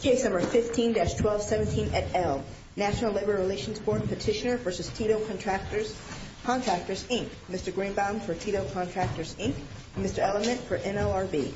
Case No. 15-1217 et al., National Labor Relations Board Petitioner v. Tito Contractors, Inc. Mr. Greenbaum for Tito Contractors, Inc. Mr. Ellement for NLRB. Mr. Greenbaum for Tito Contractors, Inc. Mr. Greenbaum for Tito Contractors, Inc.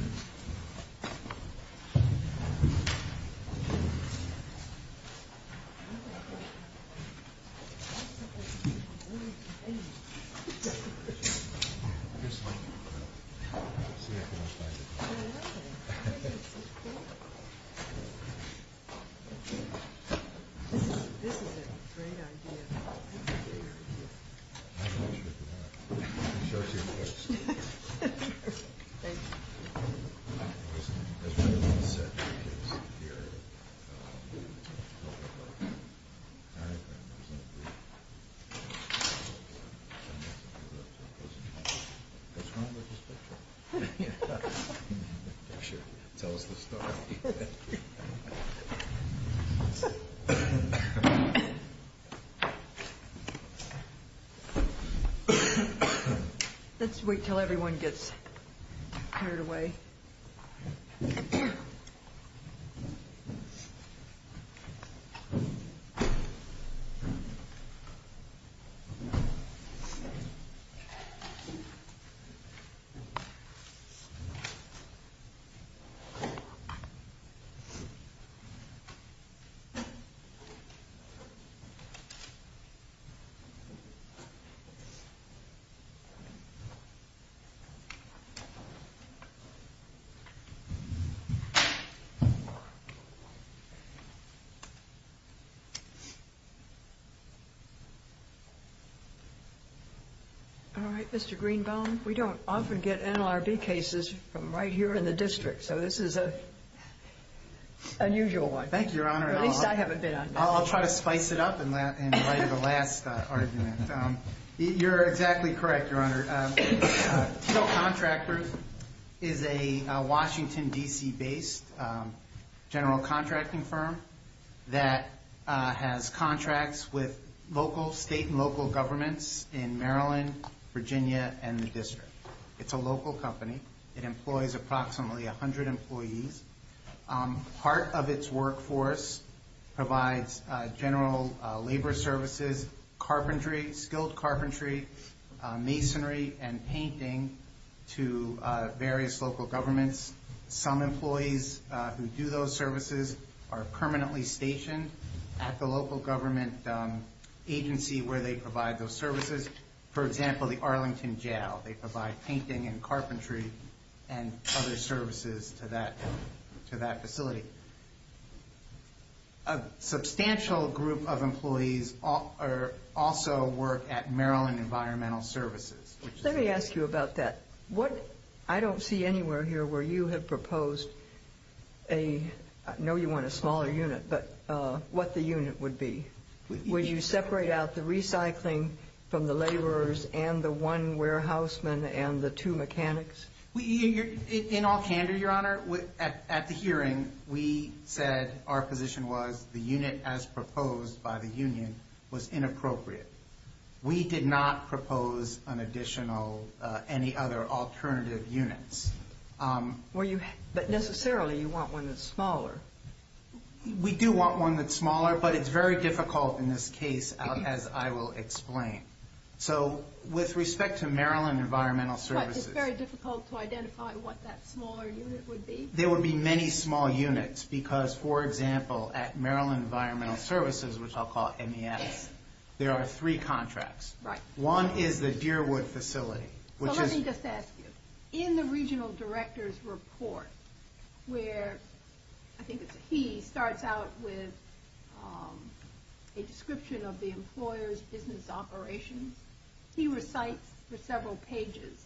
All right, Mr. Greenbaum, we don't often get NLRB cases from right here in the district, so this is an unusual one. Thank you, Your Honor. At least I haven't been on NLRB. I'll try to spice it up and write the last argument. You're exactly correct, Your Honor. Tito Contractors is a Washington, D.C.-based general contracting firm that has contracts with local state and local governments in Maryland, Virginia, and the district. It's a local company. It employs approximately 100 employees. Part of its workforce provides general labor services, carpentry, skilled carpentry, masonry, and painting to various local governments. Some employees who do those services are permanently stationed at the local government agency where they provide those services. Here's, for example, the Arlington Jail. They provide painting and carpentry and other services to that facility. A substantial group of employees also work at Maryland Environmental Services. Let me ask you about that. I don't see anywhere here where you have proposed a—I know you want a smaller unit, but what the unit would be. Would you separate out the recycling from the laborers and the one warehouseman and the two mechanics? In all candor, Your Honor, at the hearing we said our position was the unit as proposed by the union was inappropriate. We did not propose an additional—any other alternative units. We do want one that's smaller, but it's very difficult in this case, as I will explain. With respect to Maryland Environmental Services— But it's very difficult to identify what that smaller unit would be? There would be many small units because, for example, at Maryland Environmental Services, which I'll call MES, there are three contracts. One is the Deerwood facility, which is— I think it's he starts out with a description of the employer's business operations. He recites for several pages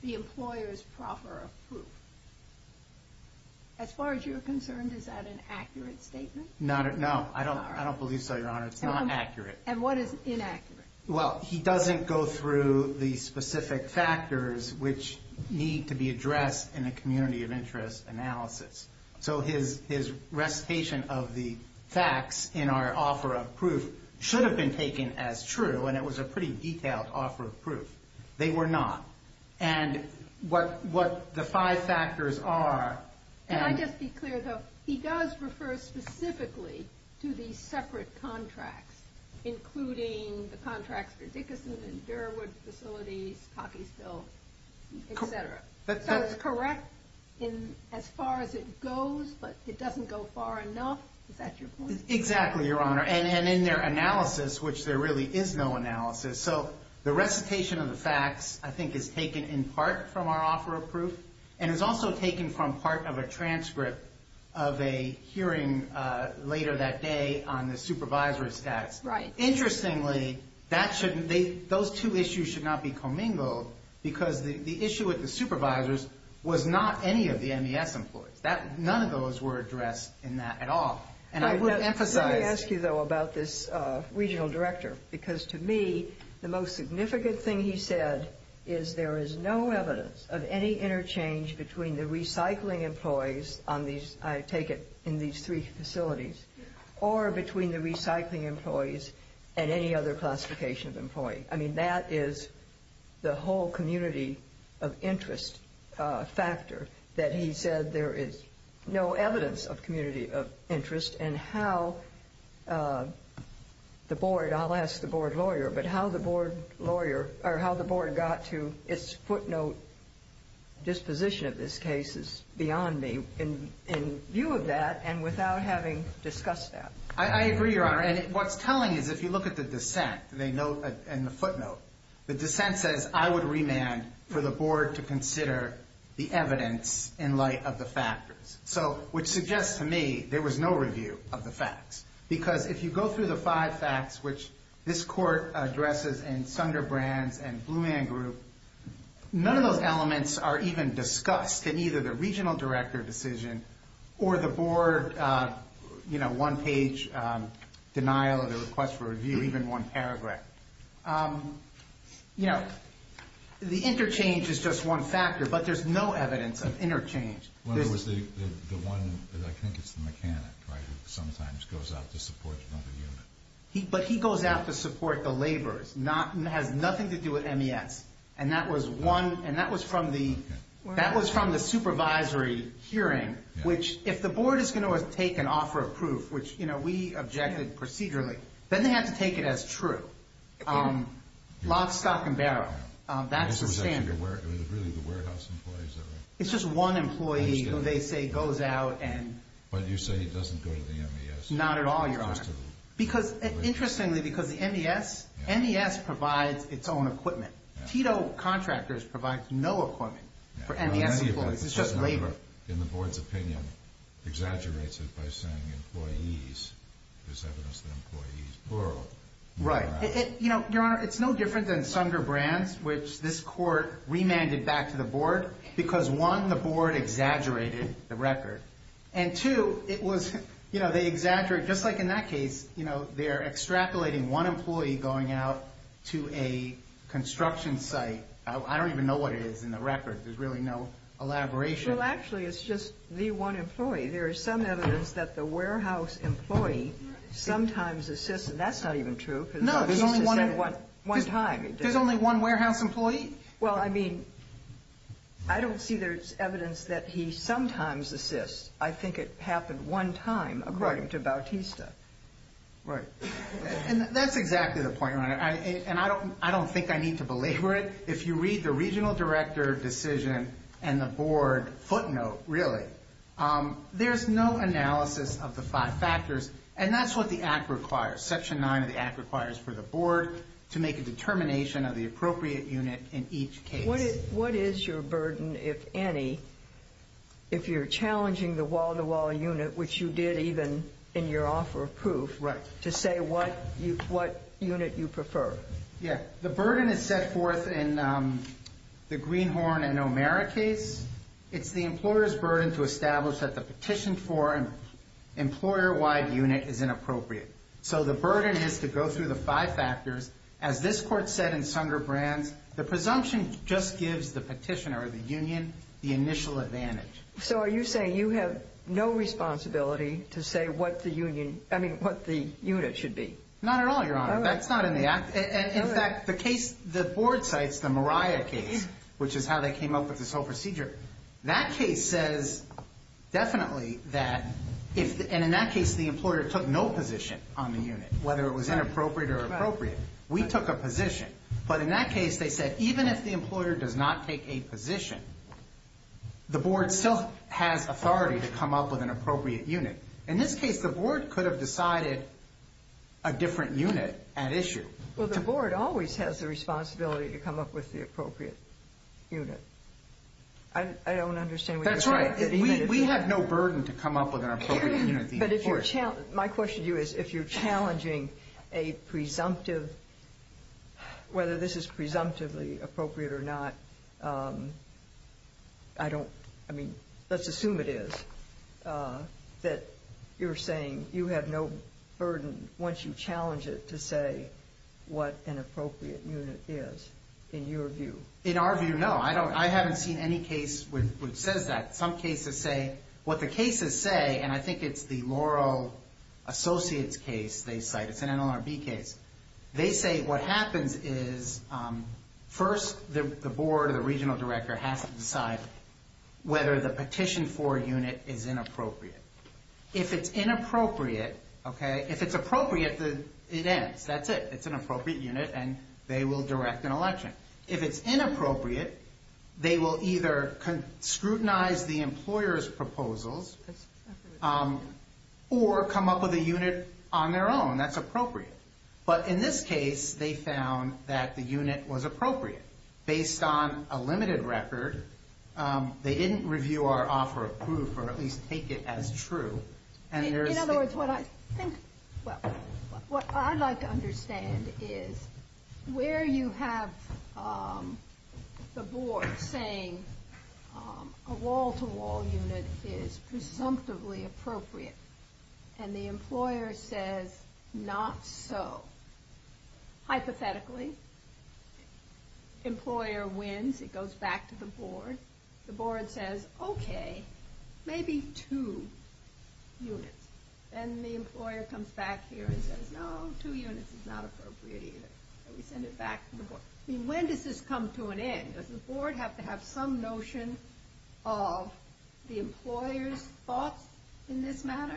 the employer's proper of proof. As far as you're concerned, is that an accurate statement? No, I don't believe so, Your Honor. It's not accurate. And what is inaccurate? Well, he doesn't go through the specific factors which need to be addressed in a community of interest analysis. So his recitation of the facts in our offer of proof should have been taken as true, and it was a pretty detailed offer of proof. They were not. And what the five factors are— Can I just be clear, though? He does refer specifically to these separate contracts, including the contracts for Dickinson and Deerwood facilities, Cockeysville, et cetera. So it's correct as far as it goes, but it doesn't go far enough? Is that your point? Exactly, Your Honor. And in their analysis, which there really is no analysis. So the recitation of the facts, I think, is taken in part from our offer of proof. And it was also taken from part of a transcript of a hearing later that day on the supervisor's desk. Interestingly, those two issues should not be commingled because the issue with the supervisors was not any of the MES employees. None of those were addressed in that at all. And I would emphasize— Let me ask you, though, about this regional director. Because to me, the most significant thing he said is there is no evidence of any interchange between the recycling employees on these— and any other classification of employee. I mean, that is the whole community of interest factor, that he said there is no evidence of community of interest and how the board— I'll ask the board lawyer, but how the board lawyer— or how the board got to its footnote disposition of this case is beyond me in view of that and without having discussed that. I agree, Your Honor. And what's telling is if you look at the dissent in the footnote, the dissent says, I would remand for the board to consider the evidence in light of the factors. Which suggests to me there was no review of the facts. Because if you go through the five facts, which this court addresses in Sunderbrand's and Blumann Group, none of those elements are even discussed in either the regional director decision or the board one-page denial of the request for review, even one paragraph. You know, the interchange is just one factor, but there's no evidence of interchange. Well, there was the one—I think it's the mechanic, right, who sometimes goes out to support another unit. But he goes out to support the laborers. It has nothing to do with MES. And that was one—and that was from the—that was from the supervisory hearing, which if the board is going to take an offer of proof, which, you know, we objected procedurally, then they have to take it as true. Lock, stock, and barrel. That's the standard. This was actually the warehouse employee, is that right? It's just one employee who they say goes out and— But you say he doesn't go to the MES. Not at all, Your Honor. Interestingly, because the MES—MES provides its own equipment. Tito Contractors provides no equipment for MES employees. It's just labor. In the board's opinion, exaggerates it by saying employees. There's evidence that employees borrow. Right. You know, Your Honor, it's no different than Sunder Brands, which this court remanded back to the board, because one, the board exaggerated the record. And two, it was—you know, they exaggerated—just like in that case, you know, they're extrapolating one employee going out to a construction site. I don't even know what it is in the record. There's really no elaboration. Well, actually, it's just the one employee. There is some evidence that the warehouse employee sometimes assists—and that's not even true, because— No, there's only one— One time. There's only one warehouse employee? Well, I mean, I don't see there's evidence that he sometimes assists. I think it happened one time, according to Bautista. Right. And that's exactly the point, Your Honor, and I don't think I need to belabor it. If you read the regional director decision and the board footnote, really, there's no analysis of the five factors, and that's what the Act requires. Section 9 of the Act requires for the board to make a determination of the appropriate unit in each case. What is your burden, if any, if you're challenging the wall-to-wall unit, which you did even in your offer of proof, to say what unit you prefer? Yeah. The burden is set forth in the Greenhorn and O'Mara case. It's the employer's burden to establish that the petition for an employer-wide unit is inappropriate. So the burden is to go through the five factors. As this Court said in Sunderbrand's, the presumption just gives the petitioner or the union the initial advantage. So are you saying you have no responsibility to say what the unit should be? Not at all, Your Honor. That's not in the Act. In fact, the case the board cites, the Mariah case, which is how they came up with this whole procedure, that case says definitely that, and in that case the employer took no position on the unit, whether it was inappropriate or appropriate. We took a position. But in that case, they said even if the employer does not take a position, the board still has authority to come up with an appropriate unit. In this case, the board could have decided a different unit at issue. Well, the board always has the responsibility to come up with the appropriate unit. I don't understand what you're saying. That's right. We have no burden to come up with an appropriate unit. But if you're challenging, my question to you is if you're challenging a presumptive, whether this is presumptively appropriate or not, I don't, I mean, let's assume it is, that you're saying you have no burden once you challenge it to say what an appropriate unit is, in your view. In our view, no. I haven't seen any case which says that. Some cases say, what the cases say, and I think it's the Laurel Associates case they cite. It's an NLRB case. They say what happens is first the board or the regional director has to decide whether the petition for a unit is inappropriate. If it's inappropriate, okay, if it's appropriate, it ends. That's it. It's an appropriate unit, and they will direct an election. If it's inappropriate, they will either scrutinize the employer's proposals or come up with a unit on their own that's appropriate. But in this case, they found that the unit was appropriate. Based on a limited record, they didn't review our offer of proof or at least take it as true. In other words, what I'd like to understand is where you have the board saying a wall-to-wall unit is presumptively appropriate and the employer says not so. Hypothetically, employer wins. It goes back to the board. The board says, okay, maybe two units. Then the employer comes back here and says, no, two units is not appropriate either. We send it back to the board. When does this come to an end? Does the board have to have some notion of the employer's thoughts in this matter?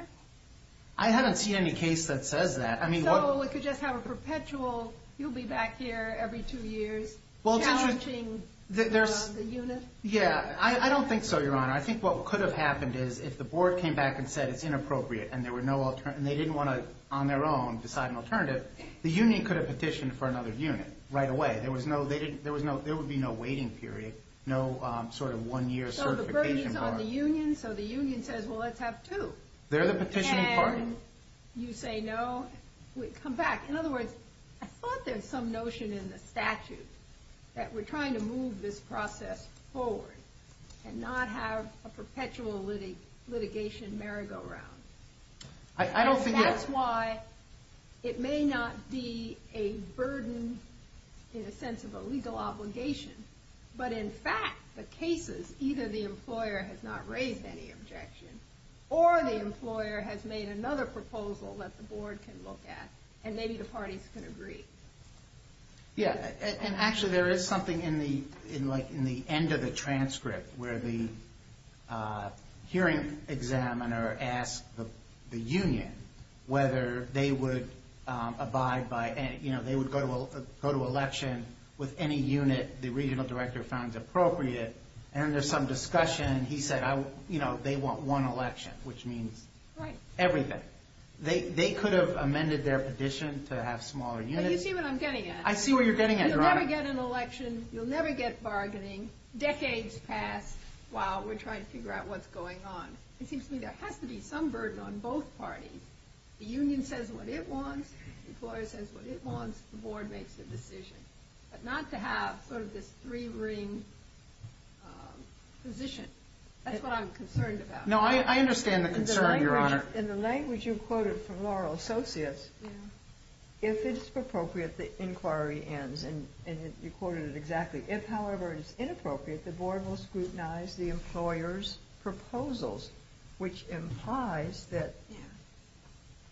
I haven't seen any case that says that. So it could just have a perpetual, you'll be back here every two years challenging the unit? Yeah, I don't think so, Your Honor. I think what could have happened is if the board came back and said it's inappropriate and they didn't want to, on their own, decide an alternative, the union could have petitioned for another unit right away. There would be no waiting period, no sort of one-year certification bar. So the burden's on the union, so the union says, well, let's have two. They're the petitioning party. And you say no, we come back. In other words, I thought there was some notion in the statute that we're trying to move this process forward and not have a perpetual litigation merry-go-round. That's why it may not be a burden in a sense of a legal obligation, but in fact the cases, either the employer has not raised any objection or the employer has made another proposal that the board can look at and maybe the parties can agree. Yeah, and actually there is something in the end of the transcript where the hearing examiner asked the union whether they would abide by, you know, they would go to election with any unit the regional director found appropriate. And there's some discussion, and he said, you know, they want one election, which means everything. They could have amended their petition to have smaller units. But you see what I'm getting at. I see what you're getting at, Your Honor. You'll never get an election. You'll never get bargaining. Decades pass while we're trying to figure out what's going on. It seems to me there has to be some burden on both parties. The union says what it wants. The employer says what it wants. The board makes a decision. But not to have sort of this three-ring position. That's what I'm concerned about. No, I understand the concern, Your Honor. In the language you quoted from Laurel Associates, if it's appropriate, the inquiry ends. And you quoted it exactly. If, however, it's inappropriate, the board will scrutinize the employer's proposals, which implies that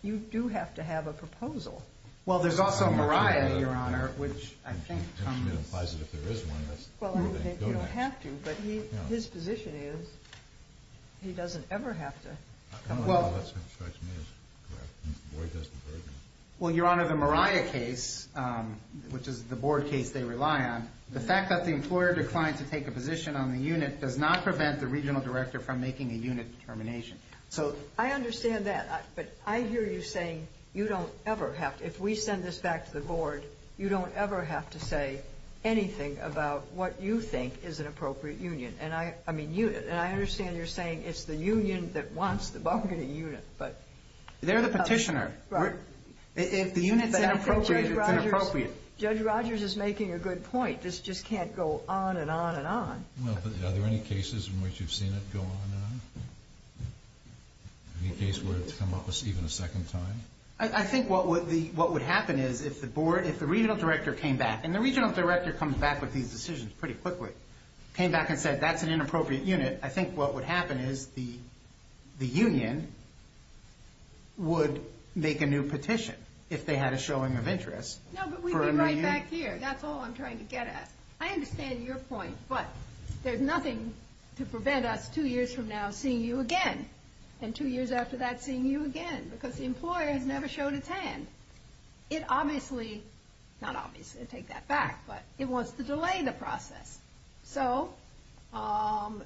you do have to have a proposal. Well, there's also Mariah, Your Honor, which I think comes. It implies that if there is one, that's the thing. You don't have to, but his position is he doesn't ever have to. Well, Your Honor, the Mariah case, which is the board case they rely on, the fact that the employer declined to take a position on the unit does not prevent the regional director from making a unit determination. I understand that, but I hear you saying you don't ever have to. If we send this back to the board, you don't ever have to say anything about what you think is an appropriate union. I understand you're saying it's the union that wants the bargaining unit. They're the petitioner. If the unit's inappropriate, it's inappropriate. Judge Rogers is making a good point. This just can't go on and on and on. Are there any cases in which you've seen it go on and on? Any case where it's come up even a second time? I think what would happen is if the board, if the regional director came back, and the regional director comes back with these decisions pretty quickly, came back and said that's an inappropriate unit, I think what would happen is the union would make a new petition if they had a showing of interest. No, but we'd be right back here. That's all I'm trying to get at. I understand your point, but there's nothing to prevent us two years from now seeing you again, and two years after that seeing you again because the employer has never showed its hand. It obviously, not obviously, I take that back, but it wants to delay the process. So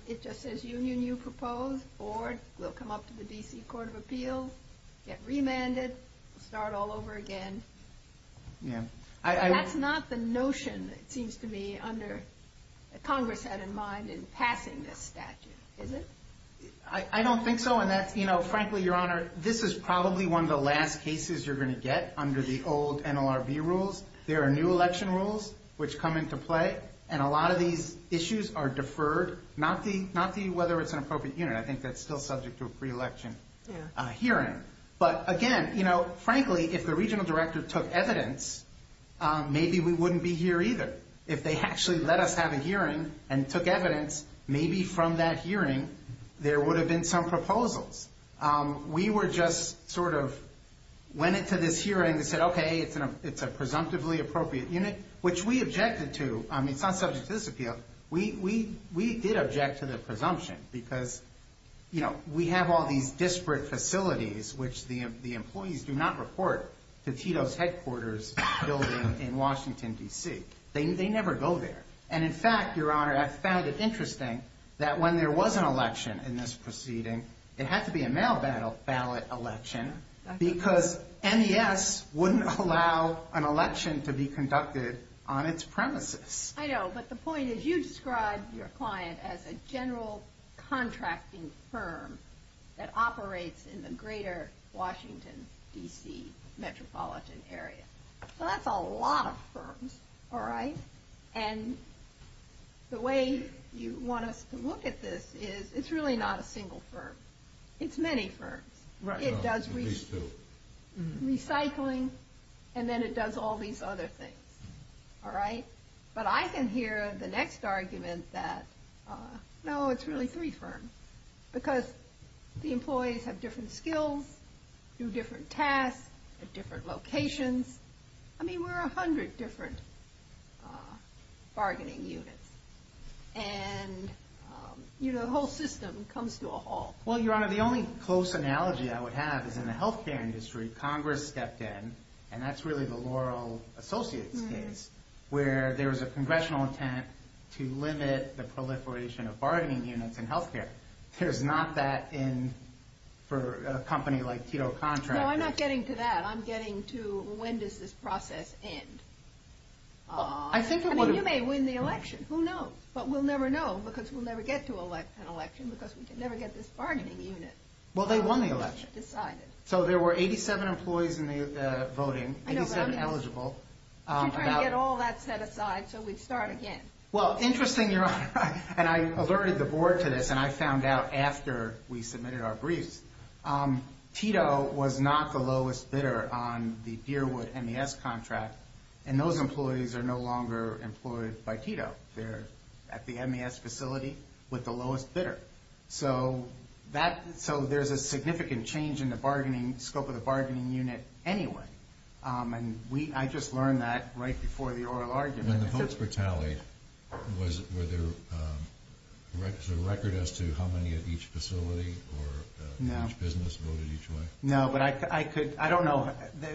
it just says union you propose, board will come up to the D.C. Court of Appeals, get remanded, start all over again. That's not the notion, it seems to me, that Congress had in mind in passing this statute, is it? I don't think so, and frankly, Your Honor, this is probably one of the last cases you're going to get under the old NLRB rules. There are new election rules which come into play, and a lot of these issues are deferred, not the whether it's an appropriate unit. I think that's still subject to a pre-election hearing. But again, frankly, if the regional director took evidence, maybe we wouldn't be here either. If they actually let us have a hearing and took evidence, maybe from that hearing there would have been some proposals. We were just sort of went into this hearing and said, okay, it's a presumptively appropriate unit, which we objected to. I mean, it's not subject to this appeal. We did object to the presumption because, you know, we have all these disparate facilities which the employees do not report to Tito's headquarters building in Washington, D.C. They never go there. And in fact, Your Honor, I found it interesting that when there was an election in this proceeding, it had to be a mail ballot election because NES wouldn't allow an election to be conducted on its premises. I know, but the point is you described your client as a general contracting firm that operates in the greater Washington, D.C. metropolitan area. Well, that's a lot of firms, all right? And the way you want us to look at this is it's really not a single firm. It's many firms. It does recycling, and then it does all these other things, all right? But I can hear the next argument that, no, it's really three firms because the employees have different skills, do different tasks at different locations. I mean, we're 100 different bargaining units. And the whole system comes to a halt. Well, Your Honor, the only close analogy I would have is in the health care industry, Congress stepped in, and that's really the Laurel Associates case where there was a congressional intent to limit the proliferation of bargaining units in health care. There's not that in for a company like Tito Contract. No, I'm not getting to that. I'm getting to when does this process end. I mean, you may win the election. Who knows? But we'll never know because we'll never get to an election because we can never get this bargaining unit decided. Well, they won the election. So there were 87 employees in the voting, 87 eligible. You're trying to get all that set aside so we'd start again. Well, interesting, Your Honor, and I alerted the board to this, and I found out after we submitted our briefs, that Tito was not the lowest bidder on the Deerwood MES contract, and those employees are no longer employed by Tito. They're at the MES facility with the lowest bidder. So there's a significant change in the scope of the bargaining unit anyway, and I just learned that right before the oral argument. When the votes were tallied, was there a record as to how many at each facility or each business voted each way? No, but I could. I don't know.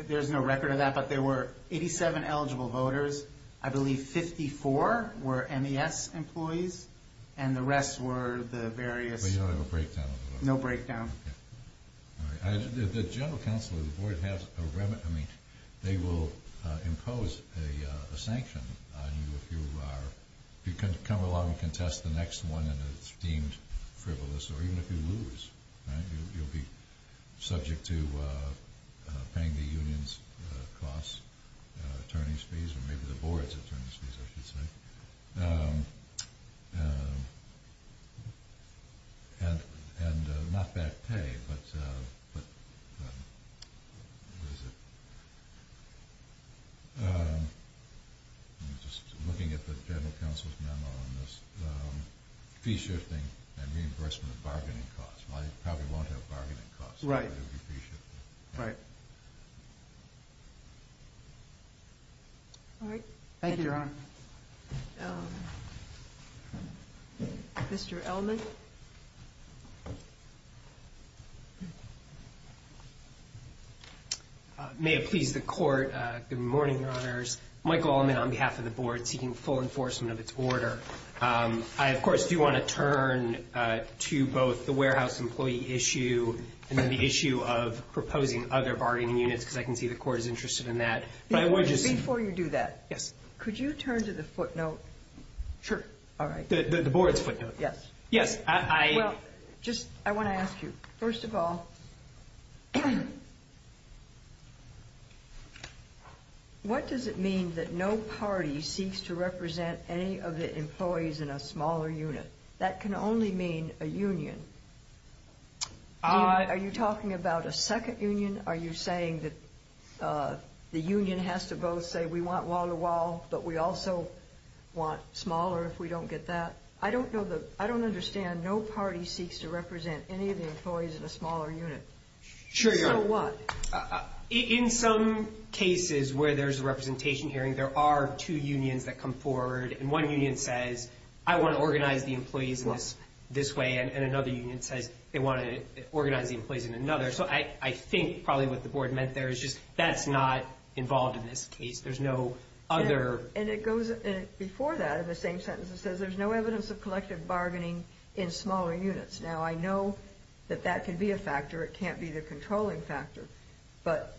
There's no record of that, but there were 87 eligible voters. I believe 54 were MES employees, and the rest were the various. But you don't have a breakdown? No breakdown. Okay. All right. The general counsel of the board has a remedy. They will impose a sanction on you if you come along and contest the next one in a deemed frivolous or even if you lose, right? You'll be subject to paying the union's costs, attorneys' fees, or maybe the board's attorneys' fees, I should say. And not bad pay, but what is it? I'm just looking at the general counsel's memo on this. Free shifting and reimbursement of bargaining costs. Well, you probably won't have bargaining costs. Right. Right. All right. Thank you, Your Honor. Mr. Elman? May it please the Court, good morning, Your Honors. Michael Elman on behalf of the board seeking full enforcement of its order. I, of course, do want to turn to both the warehouse employee issue and then the issue of proposing other bargaining units because I can see the Court is interested in that. Before you do that, could you turn to the footnote? Sure. All right. The board's footnote. Yes. Yes. I want to ask you, first of all, what does it mean that no party seeks to represent any of the employees in a smaller unit? That can only mean a union. Are you talking about a second union? Are you saying that the union has to both say, we want wall-to-wall, but we also want smaller if we don't get that? I don't understand. No party seeks to represent any of the employees in a smaller unit. Sure, Your Honor. In some cases where there's a representation hearing, there are two unions that come forward, and one union says, I want to organize the employees this way, and another union says they want to organize the employees in another. So I think probably what the board meant there is just that's not involved in this case. There's no other. And it goes before that in the same sentence. It says there's no evidence of collective bargaining in smaller units. Now, I know that that could be a factor. It can't be the controlling factor. But,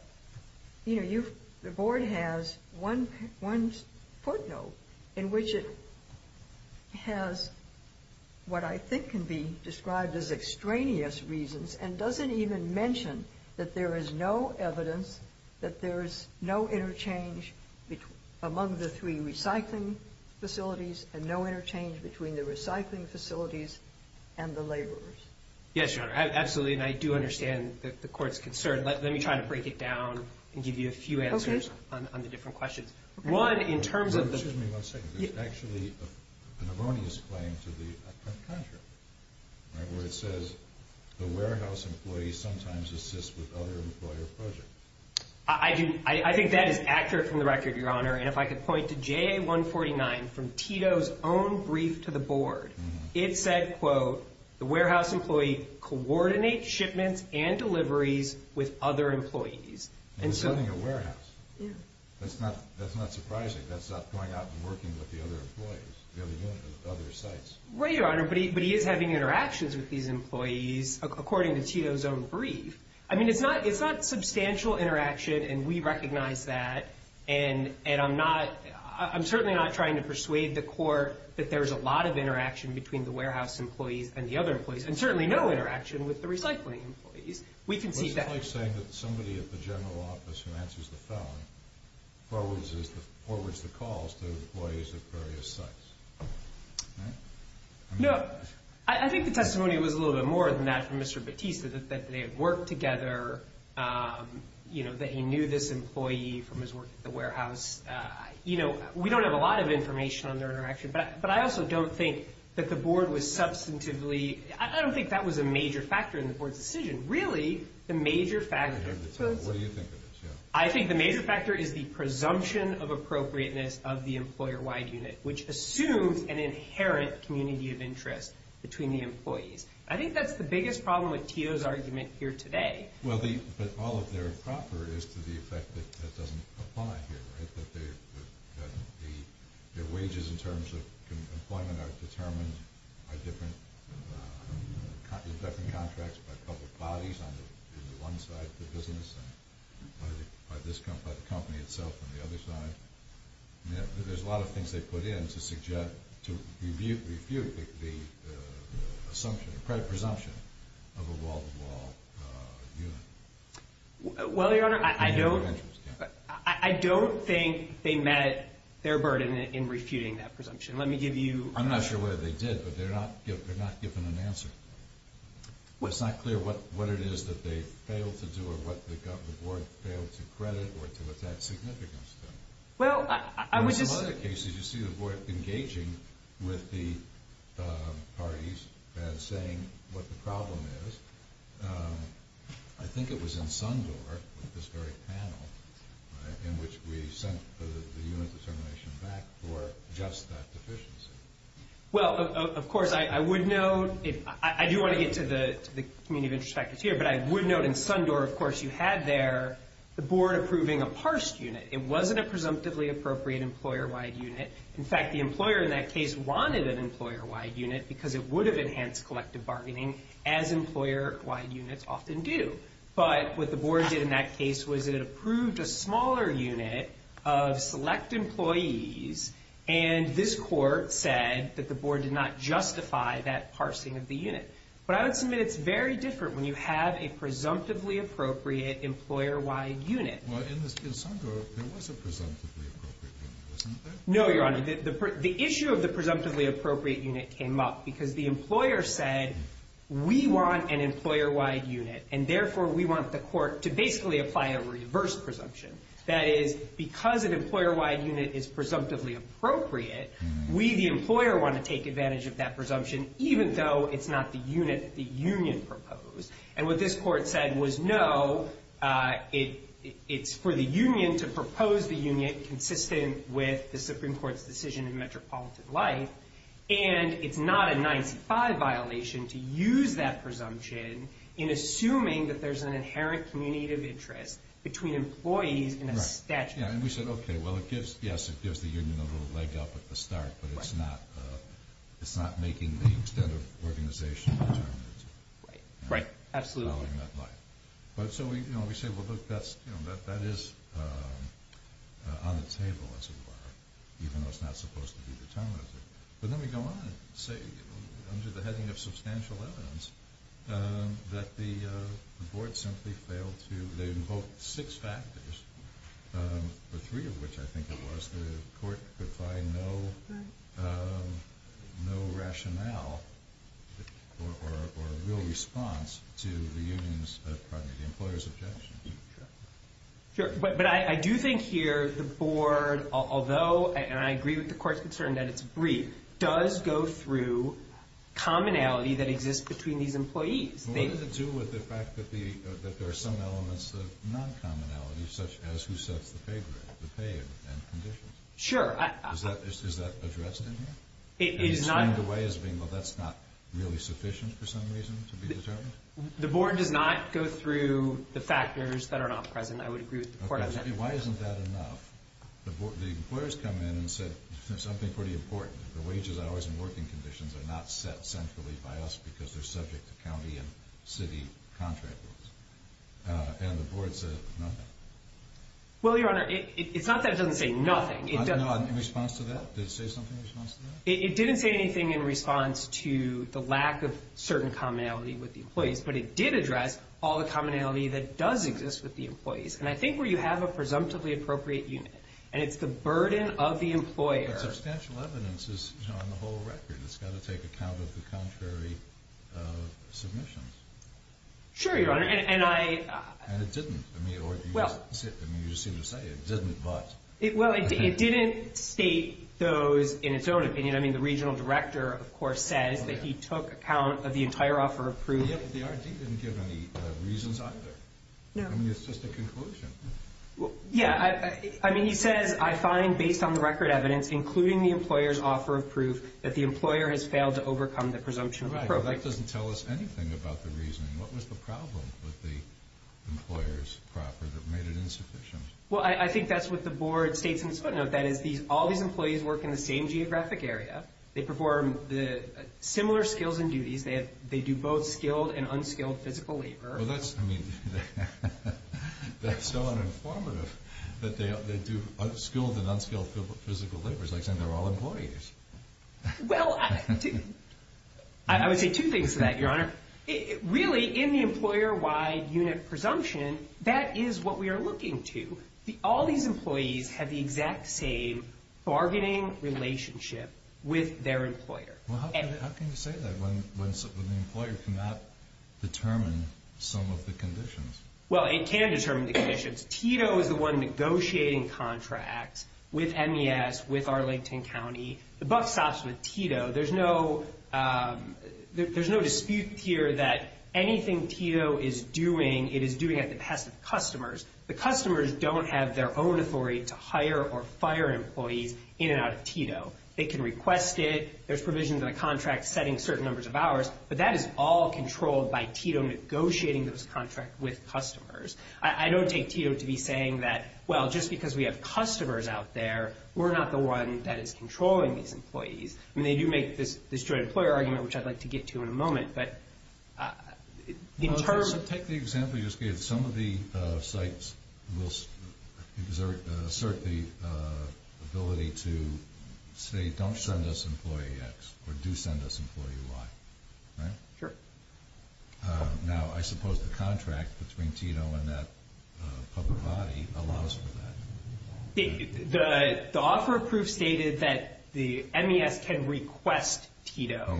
you know, the board has one footnote in which it has what I think can be described as extraneous reasons and doesn't even mention that there is no evidence that there is no interchange among the three recycling facilities and no interchange between the recycling facilities and the laborers. Yes, Your Honor. Absolutely, and I do understand the court's concern. Let me try to break it down and give you a few answers on the different questions. One, in terms of the— Excuse me one second. There's actually an erroneous claim to the contract where it says the warehouse employee sometimes assists with other employer projects. I think that is accurate from the record, Your Honor. And if I could point to JA149 from Tito's own brief to the board, it said, quote, the warehouse employee coordinates shipments and deliveries with other employees. And he's running a warehouse. That's not surprising. That's not going out and working with the other employees, the other sites. Right, Your Honor, but he is having interactions with these employees according to Tito's own brief. I mean, it's not substantial interaction, and we recognize that, and I'm certainly not trying to persuade the court that there's a lot of interaction between the warehouse employees and the other employees, and certainly no interaction with the recycling employees. We can see that. Well, it's just like saying that somebody at the general office who answers the phone forwards the calls to employees at various sites. No, I think the testimony was a little bit more than that from Mr. Battista, that they had worked together, that he knew this employee from his work at the warehouse. We don't have a lot of information on their interaction, but I also don't think that the board was substantively – I don't think that was a major factor in the board's decision. Really, the major factor – What do you think it is? I think the major factor is the presumption of appropriateness of the employer-wide unit, which assumes an inherent community of interest between the employees. I think that's the biggest problem with Tito's argument here today. Well, but all of their improper is to the effect that that doesn't apply here, right? That their wages in terms of employment are determined by different contracts, by public bodies on one side of the business, by the company itself on the other side. There's a lot of things they put in to refute the assumption, the presumption of a wall-to-wall unit. Well, Your Honor, I don't think they met their burden in refuting that presumption. Let me give you – I'm not sure whether they did, but they're not given an answer. It's not clear what it is that they failed to do or what the board failed to credit or to attach significance to. Well, I was just – I think it was in Sundor with this very panel in which we sent the unit determination back for just that deficiency. Well, of course, I would note – I do want to get to the community of interest factors here, but I would note in Sundor, of course, you had there the board approving a parsed unit. It wasn't a presumptively appropriate employer-wide unit. In fact, the employer in that case wanted an employer-wide unit because it would have enhanced collective bargaining as employer-wide units often do. But what the board did in that case was it approved a smaller unit of select employees, and this court said that the board did not justify that parsing of the unit. But I would submit it's very different when you have a presumptively appropriate employer-wide unit. Well, in Sundor, there was a presumptively appropriate unit, wasn't there? No, Your Honor. The issue of the presumptively appropriate unit came up because the employer said we want an employer-wide unit, and therefore we want the court to basically apply a reverse presumption. That is, because an employer-wide unit is presumptively appropriate, we, the employer, want to take advantage of that presumption even though it's not the unit that the union proposed. And what this court said was no, it's for the union to propose the unit consistent with the Supreme Court's decision in metropolitan life, and it's not a 95 violation to use that presumption in assuming that there's an inherent community of interest between employees and a statute. And we said, okay, well, yes, it gives the union a little leg up at the start, but it's not making the extent of organization determined. Right, absolutely. So we say, well, look, that is on the table as it were, even though it's not supposed to be determined as it were. But then we go on and say, under the heading of substantial evidence, that the board simply failed to invoke six factors, the three of which I think it was the court could find no rationale or real response to the employer's objections. Sure. But I do think here the board, although, and I agree with the court's concern that it's brief, does go through commonality that exists between these employees. What does it do with the fact that there are some elements of non-commonality, such as who sets the pay grade, the pay and conditions? Sure. Is that addressed in here? It is not. And it's framed away as being, well, that's not really sufficient for some reason to be determined? The board does not go through the factors that are not present. I would agree with the court on that. Okay. Why isn't that enough? The employers come in and said something pretty important. The wages, hours, and working conditions are not set centrally by us because they're subject to county and city contract rules. And the board said, no. Well, Your Honor, it's not that it doesn't say nothing. In response to that? Did it say something in response to that? It didn't say anything in response to the lack of certain commonality with the employees, but it did address all the commonality that does exist with the employees. And I think where you have a presumptively appropriate unit, and it's the burden of the employer. But substantial evidence is on the whole record. It's got to take account of the contrary submissions. Sure, Your Honor. And it didn't. I mean, you just seem to say it didn't, but. Well, it didn't state those in its own opinion. I mean, the regional director, of course, says that he took account of the entire offer of proof. The R.D. didn't give any reasons either. No. I mean, it's just a conclusion. Yeah. I mean, he says, I find based on the record evidence, including the employer's offer of proof, that the employer has failed to overcome the presumption of appropriate. Right, but that doesn't tell us anything about the reasoning. What was the problem with the employer's offer that made it insufficient? Well, I think that's what the board states in its footnote. That is, all these employees work in the same geographic area. They perform similar skills and duties. They do both skilled and unskilled physical labor. Well, that's, I mean, that's so uninformative that they do skilled and unskilled physical labor. It's like saying they're all employees. Well, I would say two things to that, Your Honor. Really, in the employer-wide unit presumption, that is what we are looking to. All these employees have the exact same bargaining relationship with their employer. Well, how can you say that when the employer cannot determine some of the conditions? Well, it can determine the conditions. Tito is the one negotiating contracts with MES, with Arlington County. The buck stops with Tito. There's no dispute here that anything Tito is doing, it is doing at the pest of customers. The customers don't have their own authority to hire or fire employees in and out of Tito. They can request it. There's provisions in the contract setting certain numbers of hours, but that is all controlled by Tito negotiating those contracts with customers. I don't take Tito to be saying that, well, just because we have customers out there, we're not the one that is controlling these employees. I mean, they do make this joint employer argument, which I'd like to get to in a moment. Take the example you just gave. Some of the sites will assert the ability to say, don't send us employee X or do send us employee Y. Now, I suppose the contract between Tito and that public body allows for that. The offer of proof stated that the MES can request Tito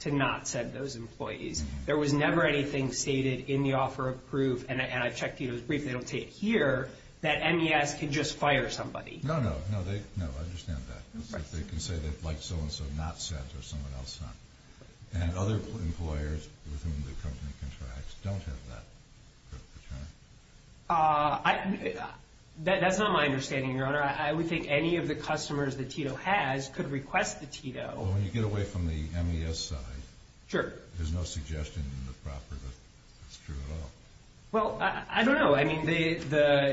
to not send those employees. There was never anything stated in the offer of proof, and I checked Tito's brief, they don't say it here, that MES can just fire somebody. No, no, no, I understand that. They can say that like so-and-so not sent or someone else not. And other employers with whom the company contracts don't have that. That's not my understanding, Your Honor. I would think any of the customers that Tito has could request the Tito. Well, when you get away from the MES side, there's no suggestion in the proper that it's true at all. Well, I don't know. I mean,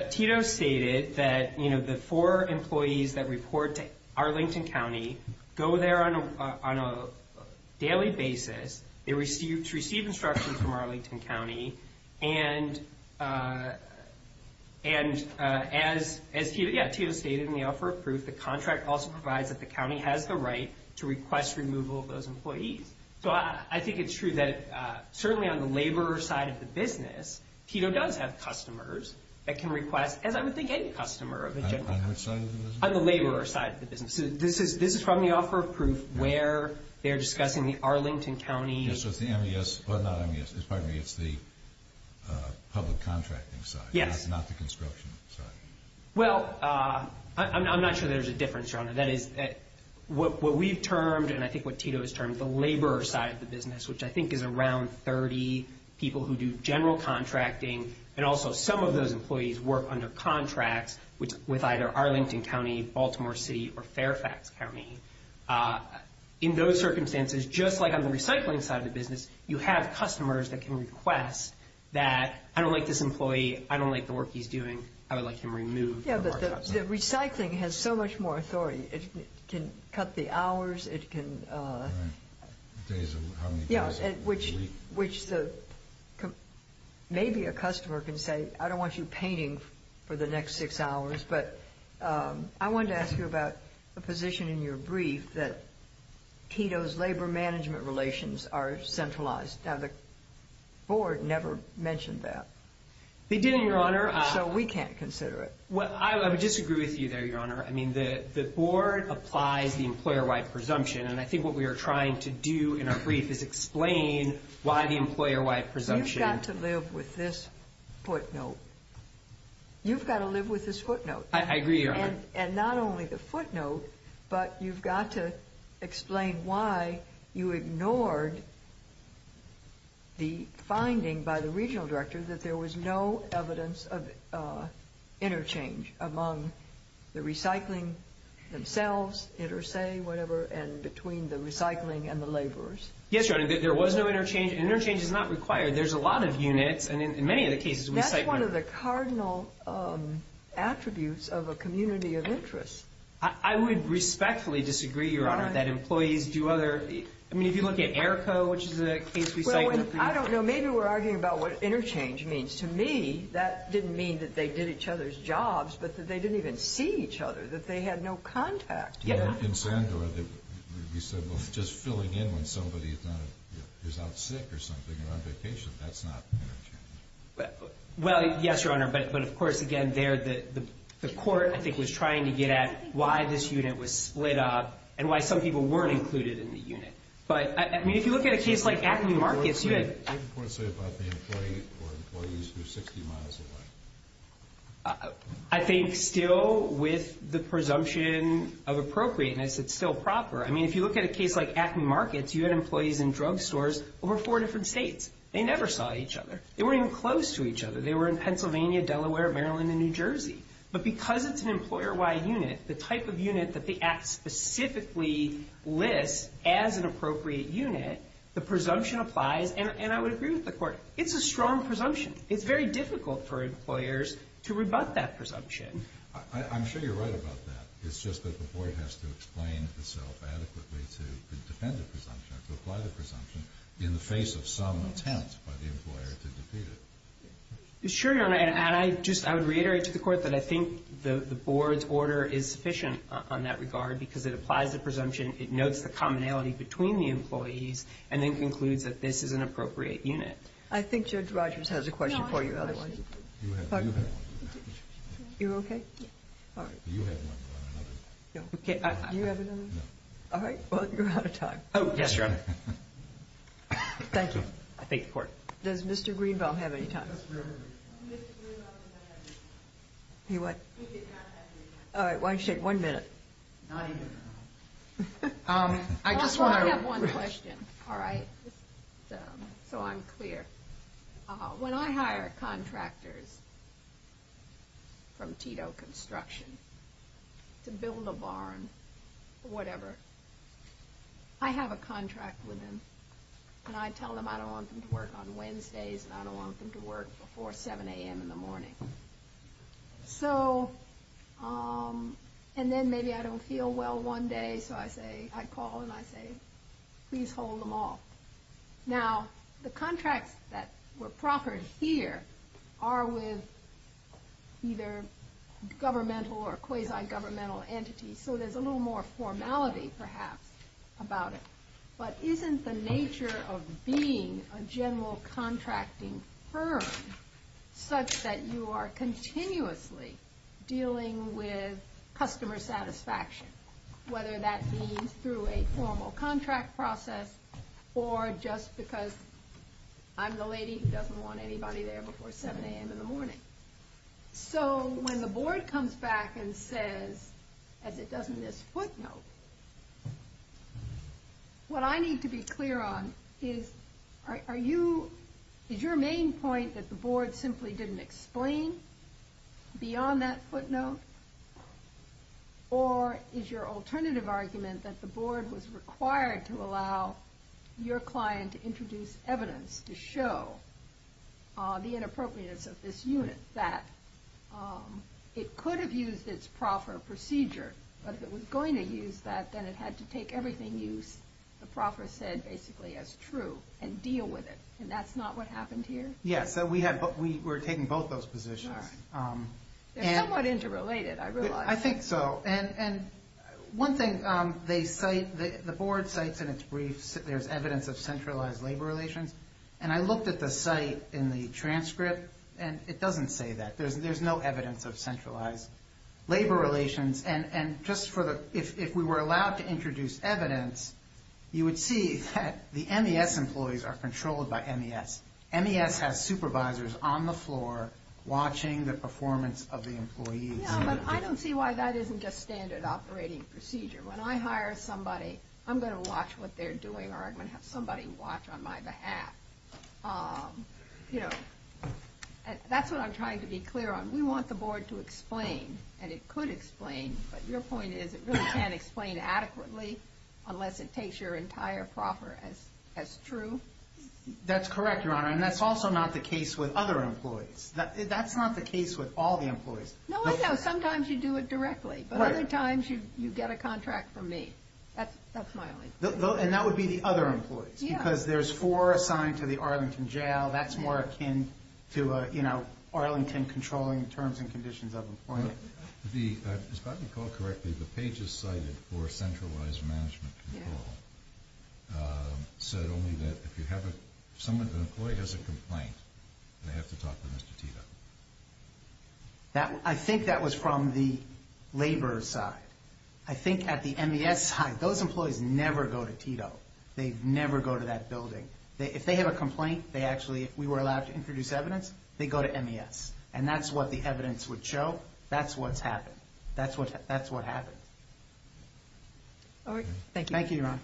Tito stated that the four employees that report to Arlington County go there on a daily basis. They receive instructions from Arlington County, and as Tito stated in the offer of proof, the contract also provides that the county has the right to request removal of those employees. So I think it's true that certainly on the laborer side of the business, Tito does have customers that can request, as I would think any customer of a general contractor. On which side of the business? On the laborer side of the business. So this is from the offer of proof where they're discussing the Arlington County. So it's the MES. Well, not MES. Pardon me. It's the public contracting side. Yes. Not the construction side. Well, I'm not sure there's a difference, Your Honor. That is what we've termed, and I think what Tito has termed, the laborer side of the business, which I think is around 30 people who do general contracting, and also some of those employees work under contracts with either Arlington County, Baltimore City, or Fairfax County. In those circumstances, just like on the recycling side of the business, you have customers that can request that, I don't like this employee. I don't like the work he's doing. I would like him removed from our job site. Yes, but the recycling has so much more authority. It can cut the hours. Days, how many days a week? Yeah, which maybe a customer can say, I don't want you painting for the next six hours, but I wanted to ask you about a position in your brief that Tito's labor management relations are centralized. Now, the board never mentioned that. They didn't, Your Honor. So we can't consider it. I would disagree with you there, Your Honor. I mean, the board applies the employer-wide presumption, and I think what we are trying to do in our brief is explain why the employer-wide presumption. You've got to live with this footnote. You've got to live with this footnote. I agree, Your Honor. And not only the footnote, but you've got to explain why you ignored the finding by the regional director that there was no evidence of interchange among the recycling themselves, inter se, whatever, and between the recycling and the laborers. Yes, Your Honor, there was no interchange. Interchange is not required. There's a lot of units, and in many of the cases, recycling. That's one of the cardinal attributes of a community of interest. I would respectfully disagree, Your Honor, that employees do other. I mean, if you look at AERCO, which is a case recycling. I don't know. Maybe we're arguing about what interchange means. To me, that didn't mean that they did each other's jobs, but that they didn't even see each other, that they had no contact. In Sandor, you said just filling in when somebody is out sick or something or on vacation. That's not interchange. Well, yes, Your Honor, but, of course, again, there the court, I think, was trying to get at why this unit was split up and why some people weren't included in the unit. But, I mean, if you look at a case like Acme Markets. What did the court say about the employee or employees who are 60 miles away? I think still with the presumption of appropriateness, it's still proper. I mean, if you look at a case like Acme Markets, you had employees in drugstores over four different states. They never saw each other. They weren't even close to each other. They were in Pennsylvania, Delaware, Maryland, and New Jersey. But because it's an employer-wide unit, the type of unit that the Act specifically lists as an appropriate unit, the presumption applies, and I would agree with the court. It's a strong presumption. It's very difficult for employers to rebut that presumption. I'm sure you're right about that. It's just that the board has to explain itself adequately to defend the presumption or to apply the presumption in the face of some attempt by the employer to defeat it. Sure, Your Honor. And I just, I would reiterate to the court that I think the board's order is sufficient on that regard because it applies the presumption, it notes the commonality between the employees, and then concludes that this is an appropriate unit. I think Judge Rogers has a question for you, otherwise. No, I have a question. You have one. You're okay? Yeah. All right. You have one. Okay. Do you have another one? No. All right. Well, you're out of time. Oh, yes, Your Honor. Thank you. I thank the court. Does Mr. Greenville have any time? Mr. Greenville does not have any time. He what? He does not have any time. All right. Why don't you take one minute? Not even a minute. I just want to- I have one question, all right, so I'm clear. When I hire contractors from Tito Construction to build a barn or whatever, I have a contract with them, and I tell them I don't want them to work on Wednesdays, and I don't want them to work before 7 a.m. in the morning. So, and then maybe I don't feel well one day, so I call and I say, please hold them off. Now, the contracts that were proffered here are with either governmental or quasi-governmental entities, so there's a little more formality, perhaps, about it. But isn't the nature of being a general contracting firm such that you are continuously dealing with customer satisfaction, whether that means through a formal contract process or just because I'm the lady who doesn't want anybody there before 7 a.m. in the morning? So, when the board comes back and says, as it does in this footnote, what I need to be clear on is, are you- is your main point that the board simply didn't explain beyond that footnote, or is your alternative argument that the board was required to allow your client to introduce evidence to show the inappropriateness of this unit, that it could have used its proffer procedure, but if it was going to use that, then it had to take everything used, the proffer said basically as true, and deal with it. And that's not what happened here? Yeah, so we were taking both those positions. They're somewhat interrelated, I realize. I think so. And one thing they cite, the board cites in its brief, there's evidence of centralized labor relations. And I looked at the site in the transcript, and it doesn't say that. There's no evidence of centralized labor relations. And just for the-if we were allowed to introduce evidence, you would see that the MES employees are controlled by MES. MES has supervisors on the floor watching the performance of the employees. Yeah, but I don't see why that isn't just standard operating procedure. When I hire somebody, I'm going to watch what they're doing, or I'm going to have somebody watch on my behalf. You know, that's what I'm trying to be clear on. We want the board to explain, and it could explain, but your point is it really can't explain adequately unless it takes your entire proffer as true? That's correct, Your Honor, and that's also not the case with other employees. That's not the case with all the employees. No, I know. Sometimes you do it directly, but other times you get a contract from me. That's my only- And that would be the other employees? Yeah. Because there's four assigned to the Arlington Jail. That's more akin to Arlington controlling terms and conditions of employment. If I recall correctly, the pages cited for centralized management control said only that if an employee has a complaint, they have to talk to Mr. Tito. I think that was from the labor side. I think at the MES side, those employees never go to Tito. They never go to that building. If they have a complaint, they actually, if we were allowed to introduce evidence, they go to MES, and that's what the evidence would show. That's what's happened. That's what happened. All right, thank you. Thank you, Your Honor.